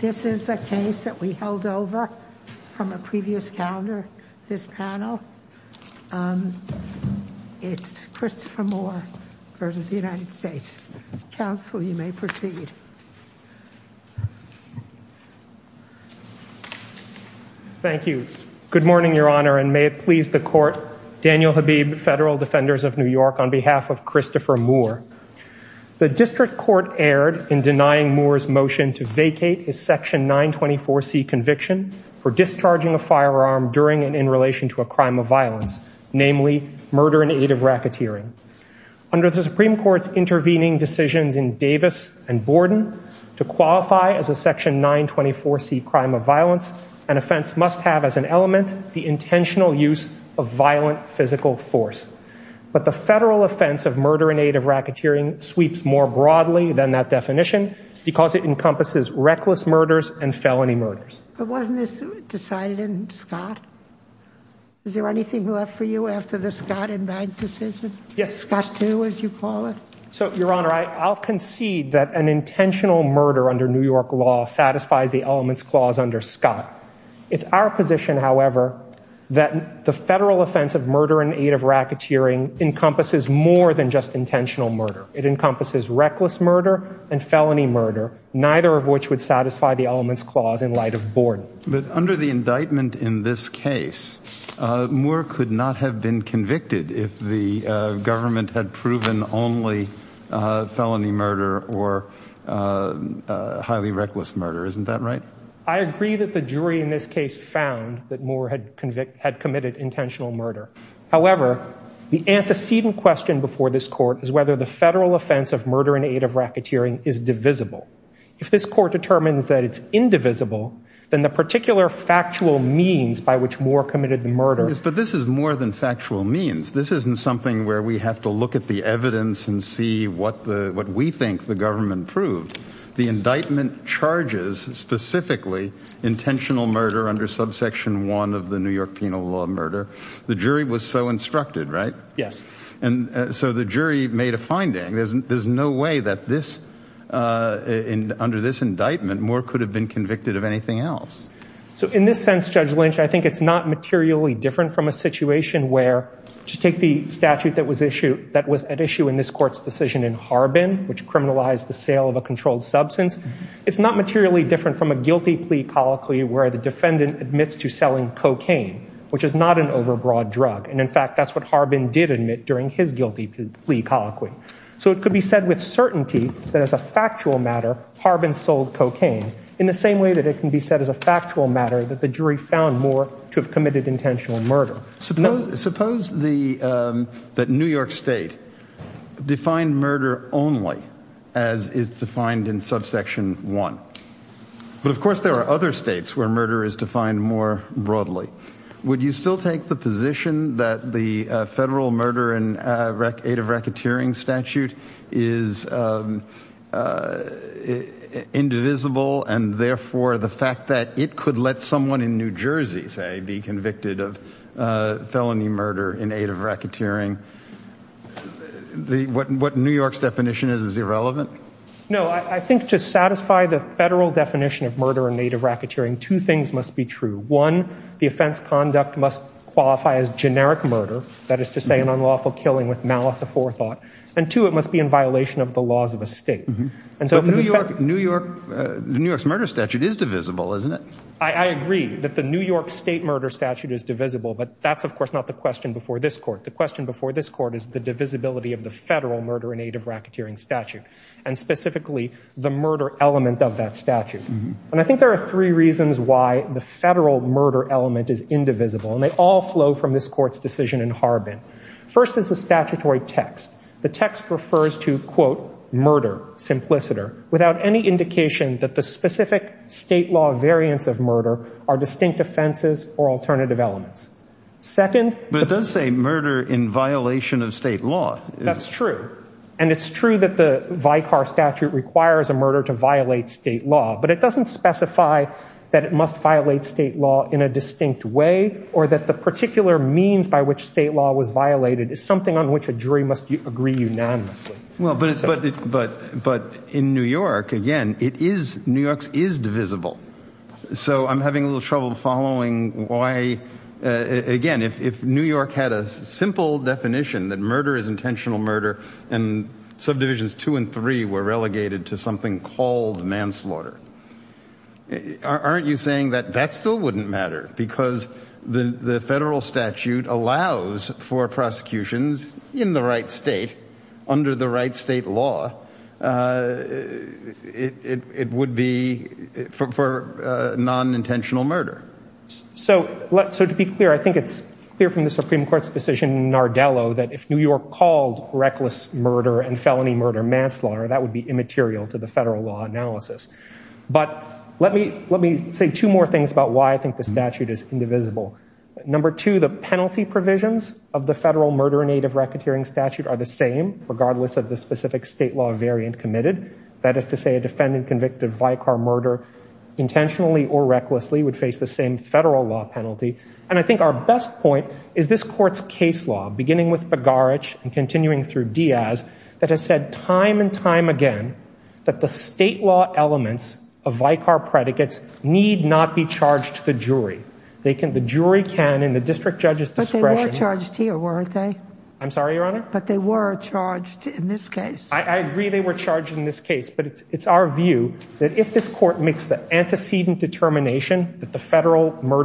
This is a case that we held over from a previous calendar. This panel, it's Christopher Moore v. United States. Counsel, you may proceed. Thank you. Good morning, Your Honor, and may it please the Court, Daniel Habib, Federal Defenders of New York, on behalf of Christopher Moore. The District Court erred in denying Moore's motion to vacate his Section 924C conviction for discharging a firearm during and in relation to a crime of violence, namely murder in aid of racketeering. Under the Supreme Court's intervening decisions in Davis and Borden, to qualify as a Section 924C crime of violence, an offense must have as an element the intentional use of violent physical force. But the federal offense of murder in aid of racketeering sweeps more broadly than that because it encompasses reckless murders and felony murders. But wasn't this decided in Scott? Is there anything left for you after the Scott and Bank decision? Yes, Your Honor. Scott 2, as you call it? So, Your Honor, I'll concede that an intentional murder under New York law satisfies the elements clause under Scott. It's our position, however, that the federal offense of murder in aid of racketeering encompasses more than just intentional murder. It encompasses reckless murder and felony murder, neither of which would satisfy the elements clause in light of Borden. But under the indictment in this case, Moore could not have been convicted if the government had proven only felony murder or highly reckless murder. Isn't that right? I agree that the jury in this case found that Moore had committed intentional murder. However, the antecedent question before this Court is whether the federal offense of murder in aid of racketeering is divisible. If this Court determines that it's indivisible, then the particular factual means by which Moore committed the murder— Yes, but this is more than factual means. This isn't something where we have to look at the evidence and see what we think the government proved. The indictment charges specifically intentional murder under Subsection 1 of the New York Penal Law of Murder. The jury was so instructed, right? Yes. So the jury made a finding. There's no way that under this indictment, Moore could have been convicted of anything else. So in this sense, Judge Lynch, I think it's not materially different from a situation where—just take the statute that was at issue in this Court's decision in Harbin, which criminalized the sale of a controlled substance. It's not materially different from a guilty plea colloquy where the defendant admits to selling cocaine, which is not an during his guilty plea colloquy. So it could be said with certainty that as a factual matter, Harbin sold cocaine in the same way that it can be said as a factual matter that the jury found Moore to have committed intentional murder. Suppose that New York State defined murder only as is defined in Subsection 1. But of course there are other states where murder is defined more broadly. Would you still take the position that the federal murder in aid of racketeering statute is indivisible and therefore the fact that it could let someone in New Jersey, say, be convicted of felony murder in aid of racketeering, what New York's definition is, is irrelevant? No. I think to satisfy the federal definition of murder in aid of racketeering, two things must be true. One, the offense conduct must qualify as generic murder, that is to say an unlawful killing with malice of forethought. And two, it must be in violation of the laws of a state. But New York's murder statute is divisible, isn't it? I agree that the New York State murder statute is divisible, but that's of course not the question before this court. The question before this court is the divisibility of the federal murder in aid of racketeering statute, and specifically the murder element of that statute. And I think there are three reasons why the federal murder element is indivisible, and they all flow from this court's decision in Harbin. First is the statutory text. The text refers to, quote, murder, simpliciter, without any indication that the specific state law variants of murder are distinct offenses or alternative elements. But it does say murder in violation of state law. That's true. And it's true that the Vicar statute requires a murder to violate state law, but it doesn't specify that it must violate state law in a distinct way or that the particular means by which state law was violated is something on which a jury must agree unanimously. But in New York, again, it is, New York's is divisible. So I'm having a little trouble following why, again, if New York had a simple definition that murder is intentional murder and subdivisions two and three were relegated to something called manslaughter, aren't you saying that that still wouldn't matter because the federal statute allows for prosecutions in the right state, under the right state law, it would be for non-intentional murder? So to be clear, I think it's clear from the Supreme Court's decision in Nardello that if New York called reckless murder and felony murder manslaughter, that would be immaterial to the federal law analysis. But let me say two more things about why I think the statute is indivisible. Number two, the penalty provisions of the federal murder in aid of racketeering statute are the same regardless of the specific state law variant committed. That is to say a defendant convicted of Vicar murder intentionally or recklessly would face the same federal law penalty. And I think our best point is this court's case law, beginning with Begarich and continuing through Diaz, that has said time and time again that the state law elements of Vicar predicates need not be charged to the jury. The jury can, in the district judge's discretion. But they were charged here, weren't they? I'm sorry, Your Honor? But they were charged in this case. I agree they were charged in this case, but it's our view that if this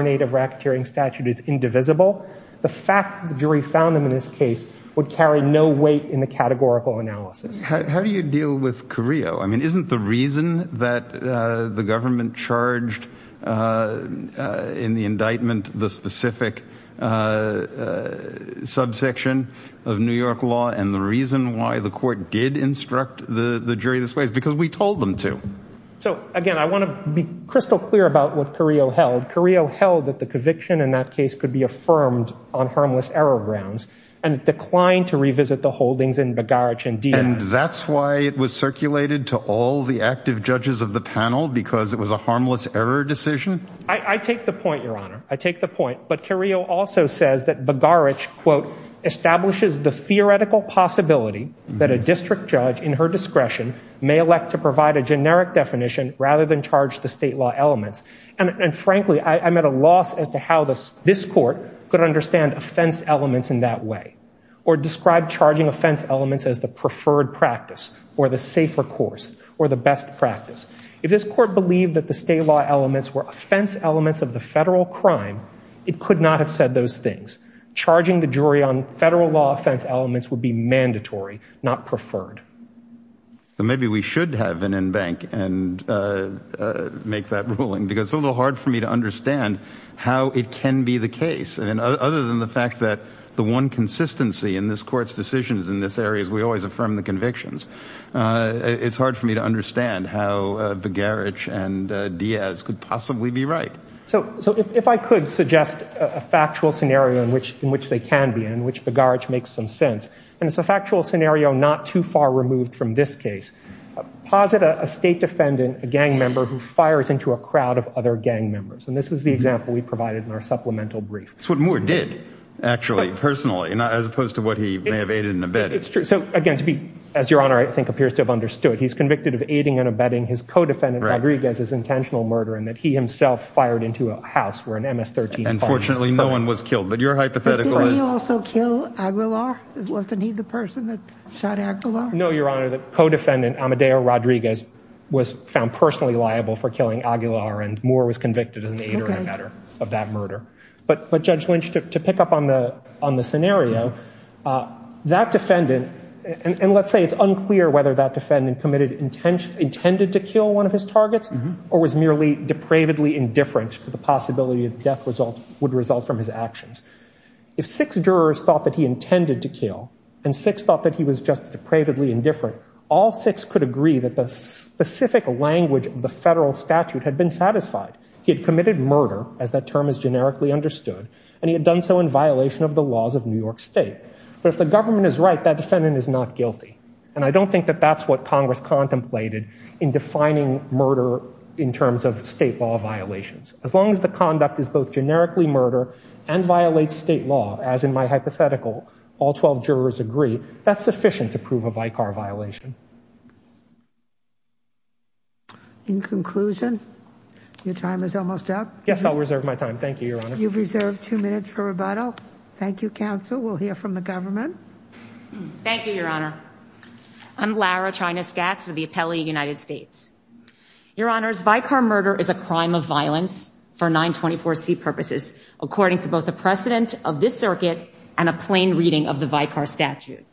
in aid of racketeering statute is indivisible, the fact the jury found them in this case would carry no weight in the categorical analysis. How do you deal with Carrillo? I mean, isn't the reason that the government charged in the indictment the specific subsection of New York law? And the reason why the court did instruct the jury this way is because we told them to. So again, I want to be crystal clear about what Carrillo held. Carrillo held that the conviction in that case could be affirmed on harmless error grounds and declined to revisit the holdings in Begarich and Diaz. And that's why it was circulated to all the active judges of the panel, because it was a harmless error decision? I take the point, Your Honor. I take the point. But Carrillo also says that Begarich, quote, establishes the theoretical possibility that a district judge in her discretion may elect to provide a generic definition rather than charge the state law elements. And frankly, I'm at a loss as to how this court could understand offense elements in that way or describe charging offense elements as the preferred practice or the safer course or the best practice. If this court believed that the state law elements were offense elements of the federal crime, it could not have said those things. Charging the jury on federal law offense elements would be mandatory, not preferred. Well, maybe we should have an en banc and make that ruling, because it's a little hard for me to understand how it can be the case. I mean, other than the fact that the one consistency in this court's decisions in this area is we always affirm the convictions. It's hard for me to understand how Begarich and Diaz could possibly be right. So if I could suggest a factual scenario in which they can be and in which Begarich makes some sense, and it's a factual scenario not too far removed from this case, posit a state defendant, a gang member, who fires into a crowd of other gang members. And this is the example we provided in our supplemental brief. That's what Moore did, actually, personally, as opposed to what he may have aided and abetted. It's true. So again, to be, as Your Honor, I think, appears to have understood. He's convicted of aiding and abetting his co-defendant, Begarich, as his intentional murder, and that he himself fired into a house where an MS-13 bomb was fired. And fortunately, no one was killed. But your hypothetical is? Did he also kill Aguilar? Wasn't he the person that shot Aguilar? No, Your Honor. The co-defendant, Amadeo Rodriguez, was found personally liable for killing Aguilar, and Moore was convicted as an aider and abetter of that murder. But Judge Lynch, to pick up on the scenario, that defendant, and let's say it's unclear whether that defendant committed, intended to kill one of his targets, or was merely depravedly indifferent to the possibility that the death would result from his actions. If six jurors thought that he intended to kill, and six thought that he was just depravedly indifferent, all six could agree that the specific language of the federal statute had been satisfied. He had committed murder, as that term is generically understood, and he had done so in violation of the laws of New York State. But if the government is right, that defendant is not guilty. And I don't think that that's what Congress contemplated in defining murder in terms of state law violations. As long as the conduct is both generically murder and violates state law, as in my hypothetical, all 12 jurors agree, that's sufficient to prove a Vicar violation. In conclusion, your time is almost up. Yes, I'll reserve my time. Thank you, Your Honor. You've reserved two minutes for rebuttal. Thank you, counsel. We'll hear from the government. Thank you, Your Honor. I'm Lara Chinaskatz with the Appellee United States. Your Honors, Vicar murder is a crime of violence for 924C purposes, according to both the precedent of this circuit and a plain reading of the Vicar statute.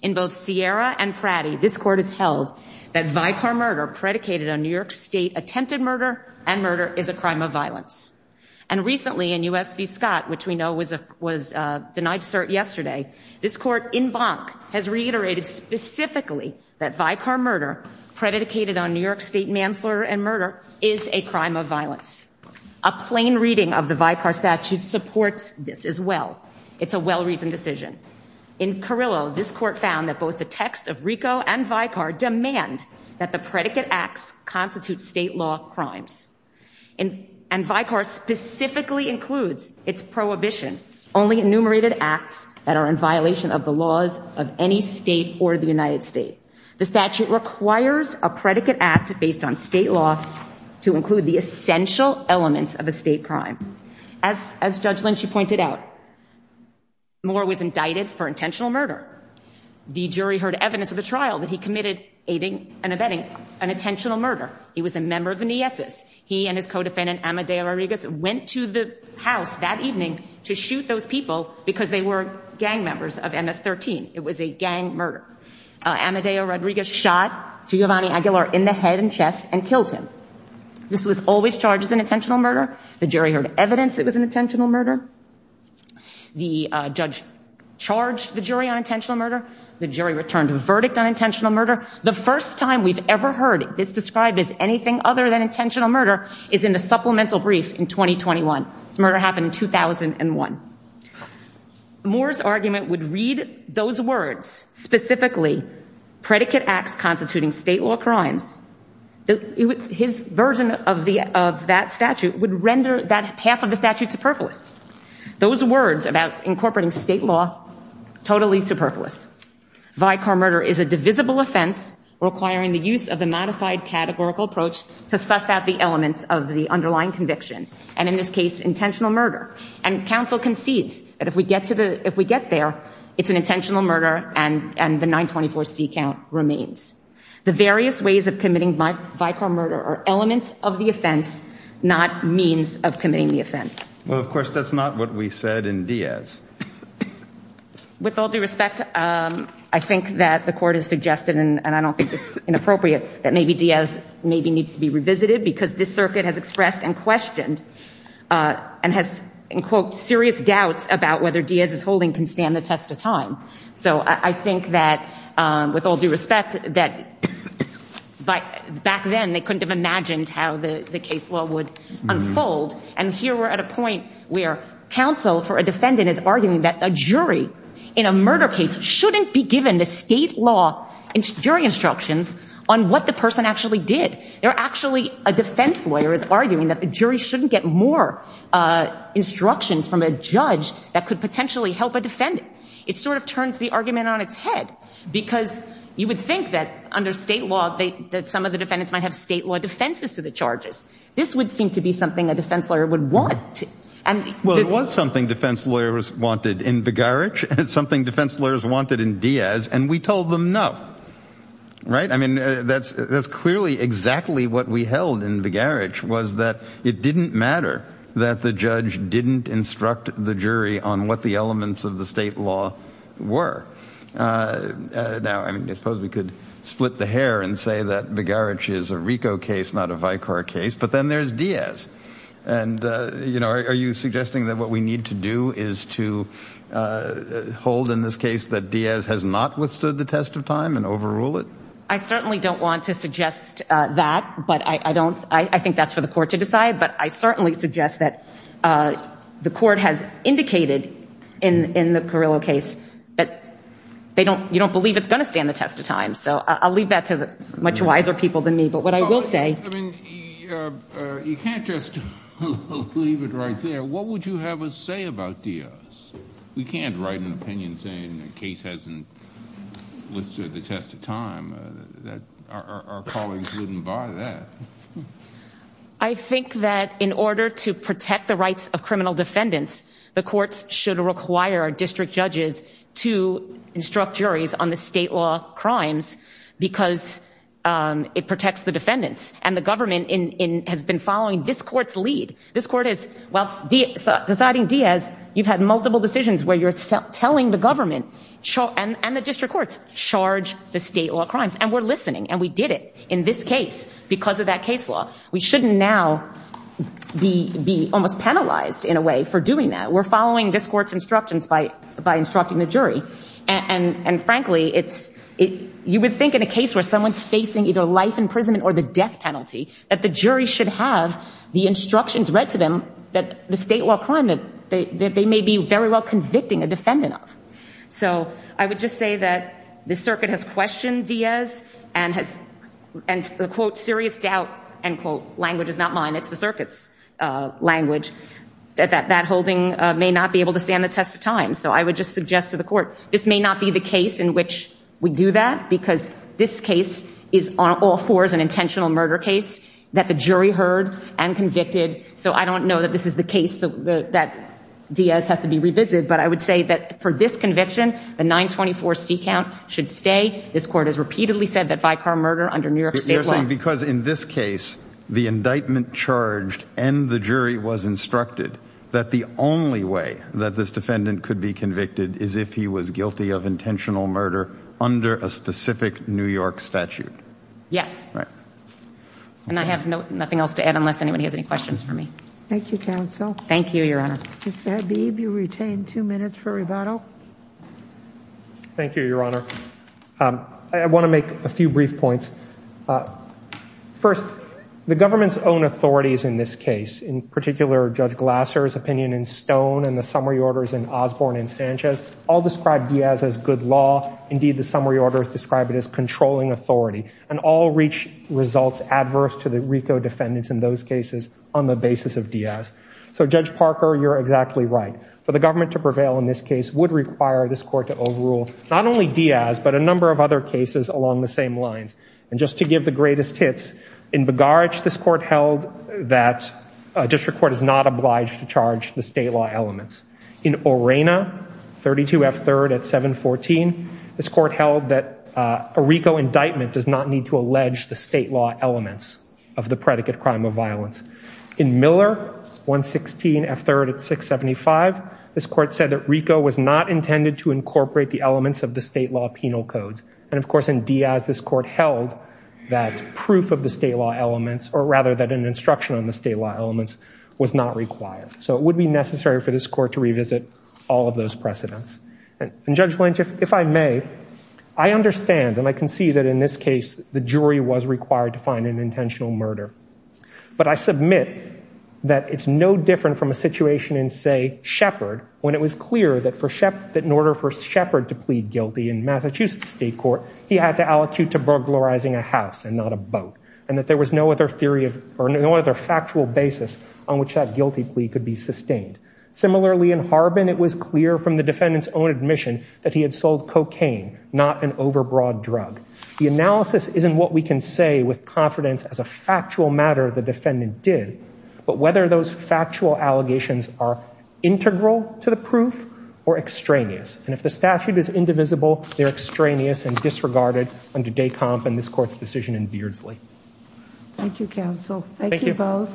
In both Sierra and Pratty, this Court has held that Vicar murder predicated on New York State attempted murder and murder is a crime of violence. And recently in U.S. v. Scott, which we know was denied cert yesterday, this Court in Bank has reiterated specifically that Vicar murder predicated on New York State manslaughter and murder is a crime of violence. A plain reading of the Vicar statute supports this as well. It's a well-reasoned decision. In Carrillo, this Court found that both the text of RICO and Vicar demand that the predicate acts constitute state law crimes. And Vicar specifically includes its prohibition, only enumerated acts that are in violation of the laws of any state or the United States. The statute requires a predicate act based on state law to include the essential elements of a state crime. As Judge Lynch, you pointed out, Moore was indicted for intentional murder. The jury heard evidence of the trial that he committed aiding and abetting an intentional murder. He was a member of the Nietzsche's. He and his co-defendant, Amadeo Rodriguez, went to the house that evening to shoot those people because they were gang members of MS-13. It was a gang murder. Amadeo Rodriguez shot Giovanni Aguilar in the head and chest and killed him. This was always charged as an intentional murder. The jury heard evidence it was an intentional murder. The judge charged the jury on intentional murder. The jury returned a verdict on intentional murder. The first time we've ever heard this described as anything other than intentional murder is in the supplemental brief in 2021. This murder happened in 2001. Moore's argument would read those words specifically, predicate acts constituting state law crimes. His version of that statute would render that half of the statute superfluous. Those words about incorporating state law, totally superfluous. Vicar murder is a divisible offense requiring the use of the modified categorical approach to suss out the elements of the underlying conviction and in this case intentional murder. And counsel concedes that if we get there, it's an intentional murder and the 924C count remains. The various ways of committing vicar murder are elements of the offense, not means of committing the offense. Well, of course, that's not what we said in Diaz. With all due respect, I think that the court has suggested and I don't think it's inappropriate that maybe Diaz maybe needs to be revisited because this circuit has expressed and questioned and has in quote serious doubts about whether Diaz's holding can stand the test of time. So I think that with all due respect that back then they couldn't have imagined how the case law would unfold and here we're at a point where counsel for a defendant is arguing that a jury in a murder case shouldn't be given the state law and jury instructions on what the person actually did. They're actually, a defense lawyer is arguing that a jury shouldn't get more instructions from a judge that could potentially help a defendant. It sort of turns the argument on its head because you would think that under state law that some of the defendants might have state law defenses to the charges. This would seem to be something a defense lawyer would want. Well, it was something defense lawyers wanted in Vigarich and something defense lawyers wanted in Diaz and we told them no. Right? I mean, that's clearly exactly what we held in Vigarich was that it didn't matter that the judge didn't instruct the jury on what the elements of the state law were. Now, I mean, I suppose we could split the hair and say that Vigarich is a RICO case, not a Vicar case, but then there's Diaz and, you know, are you suggesting that what we need to do is to hold in this case that Diaz has not withstood the test of time and overrule it? I certainly don't want to suggest that, but I don't, I think that's for the court to decide, but I certainly suggest that the court has indicated in the Carrillo case that they don't, you don't believe it's going to stand the test of time. So I'll leave that to much wiser people than me, but what I will say, I mean, you can't just leave it right there. What would you have us say about Diaz? We can't write an opinion saying the case hasn't withstood the test of time that our colleagues wouldn't buy that. I think that in order to protect the rights of criminal defendants, the courts should require district judges to instruct juries on the state law crimes because it protects the defendants and the government has been following this court's lead. This court is, while deciding Diaz, you've had multiple decisions where you're telling the government and the district courts, charge the state law crimes. And we're listening and we did it in this case because of that case law. We shouldn't now be almost penalized in a way for doing that. We're following this court's instructions by instructing the jury. And frankly, it's, you would think in a case where someone's facing either life imprisonment or the death penalty, that the jury should have the instructions read to them that the state law crime that they may be very well convicting a defendant of. So I would just say that the circuit has questioned Diaz and has, and the quote, serious doubt, end quote, language is not mine, it's the circuit's language, that that holding may not be able to stand the test of time. So I would just suggest to the court, this may not be the case in which we do that because this case is on all fours an intentional murder case that the jury heard and convicted. So I don't know that this is the case that Diaz has to be revisited, but I would say that for this conviction, the 924 C count should stay. This court has repeatedly said that Vicar murder under New York state law. Because in this case, the indictment charged and the jury was instructed that the only way that this defendant could be convicted is if he was guilty of intentional murder under a specific New York statute. Yes. And I have nothing else to add unless anybody has any questions for me. Thank you, counsel. Thank you, Your Honor. Mr. Habib, you retain two minutes for rebuttal. Thank you, Your Honor. I want to make a few brief points. First, the government's own authorities in this case, in particular, Judge Glasser's opinion in Stone and the summary orders in Osborne and Sanchez, all described Diaz as good law. Indeed, the summary orders describe it as controlling authority. And all reach results adverse to the RICO defendants in those cases on the basis of Diaz. So Judge Parker, you're exactly right. For the government to prevail in this case would require this court to overrule not only Diaz, but a number of other cases along the same lines. And just to give the greatest hits, in Bogarich, this court held that a district court is not obliged to charge the state law elements. In Orena, 32 F3rd at 714, this court held that a RICO indictment does not need to allege the state law elements of the predicate crime of violence. In Miller, 116 F3rd at 675, this court said that RICO was not intended to incorporate the elements of the state law penal codes. And of course, in Diaz, this court held that proof of the state law elements, or rather that an instruction on the state law elements, was not required. So it would be necessary for this court to revisit all of those precedents. And Judge Lynch, if I may, I understand, and I can see that in this case, the jury was required to find an intentional murder. But I submit that it's no different from a situation in, say, when it was clear that in order for Shepard to plead guilty in Massachusetts state court, he had to allocute to burglarizing a house and not a boat, and that there was no other theory of, or no other factual basis on which that guilty plea could be sustained. Similarly, in Harbin, it was clear from the defendant's own admission that he had sold cocaine, not an overbroad drug. The analysis isn't what we can say with confidence as a factual matter the defendant did, but whether those factual allegations are integral to the proof or extraneous. And if the statute is indivisible, they're extraneous and disregarded under Decomf and this court's decision in Beardsley. Thank you, counsel. Thank you both.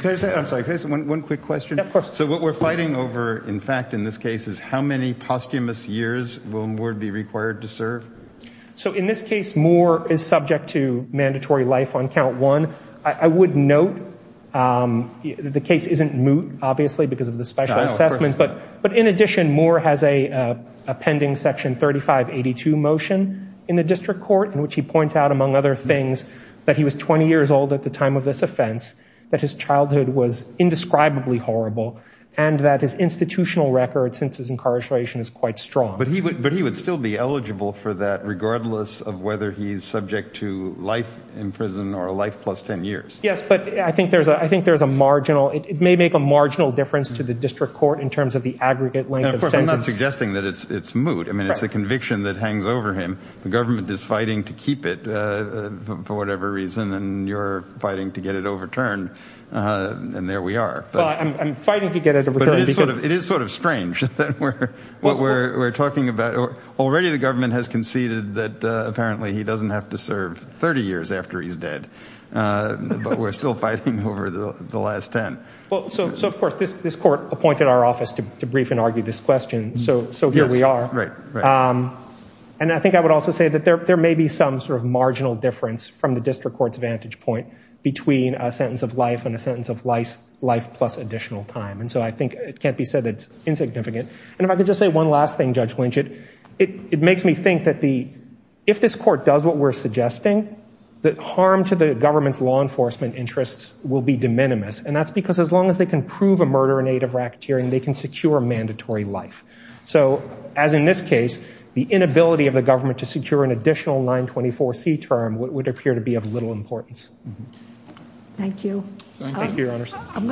Can I say, I'm sorry, can I say one quick question? Of course. So what we're fighting over, in fact, in this case is how many posthumous years will Moore be required to serve? So in this case, Moore is subject to mandatory life on count one. I would note the case isn't moot, obviously, because of the special assessment. But in addition, Moore has a pending section 3582 motion in the district court in which he points out, among other things, that he was 20 years old at the time of this offense, that his childhood was indescribably horrible, and that his institutional record, since his incarceration, is quite strong. But he would still be eligible for that regardless of whether he's subject to life in prison or a life plus 10 years. Yes, but I think there's a marginal, it may make a marginal difference to the district court in terms of the aggregate length of sentence. I'm not suggesting that it's moot. I mean, it's a conviction that hangs over him. The government is fighting to keep it for whatever reason, and you're fighting to get it overturned. And there we are. I'm fighting to get it overturned. It is sort of strange that what we're talking about, already the government has conceded that apparently he doesn't have to serve 30 years after he's dead. But we're still fighting over the last 10. Well, so of course, this court appointed our office to brief and argue this question. So here we are. And I think I would also say that there may be some sort of marginal difference from the district court's vantage point between a sentence of life and a sentence of life plus additional time. And so I think it can't be said that it's insignificant. And if I could just say one last thing, Judge Lynch, it makes me think that if this court does what we're suggesting, that harm to the government's law enforcement interests will be de minimis. And that's because as long as they can prove a murder in aid of racketeering, they can secure mandatory life. So as in this case, the inability of the government to secure an additional 924C term would appear to be of little importance. Thank you. I'm going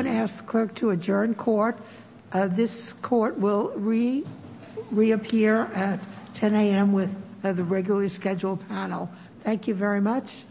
to ask the clerk to adjourn court. This court will reappear at 10 a.m. with the regularly scheduled panel. Thank you very much.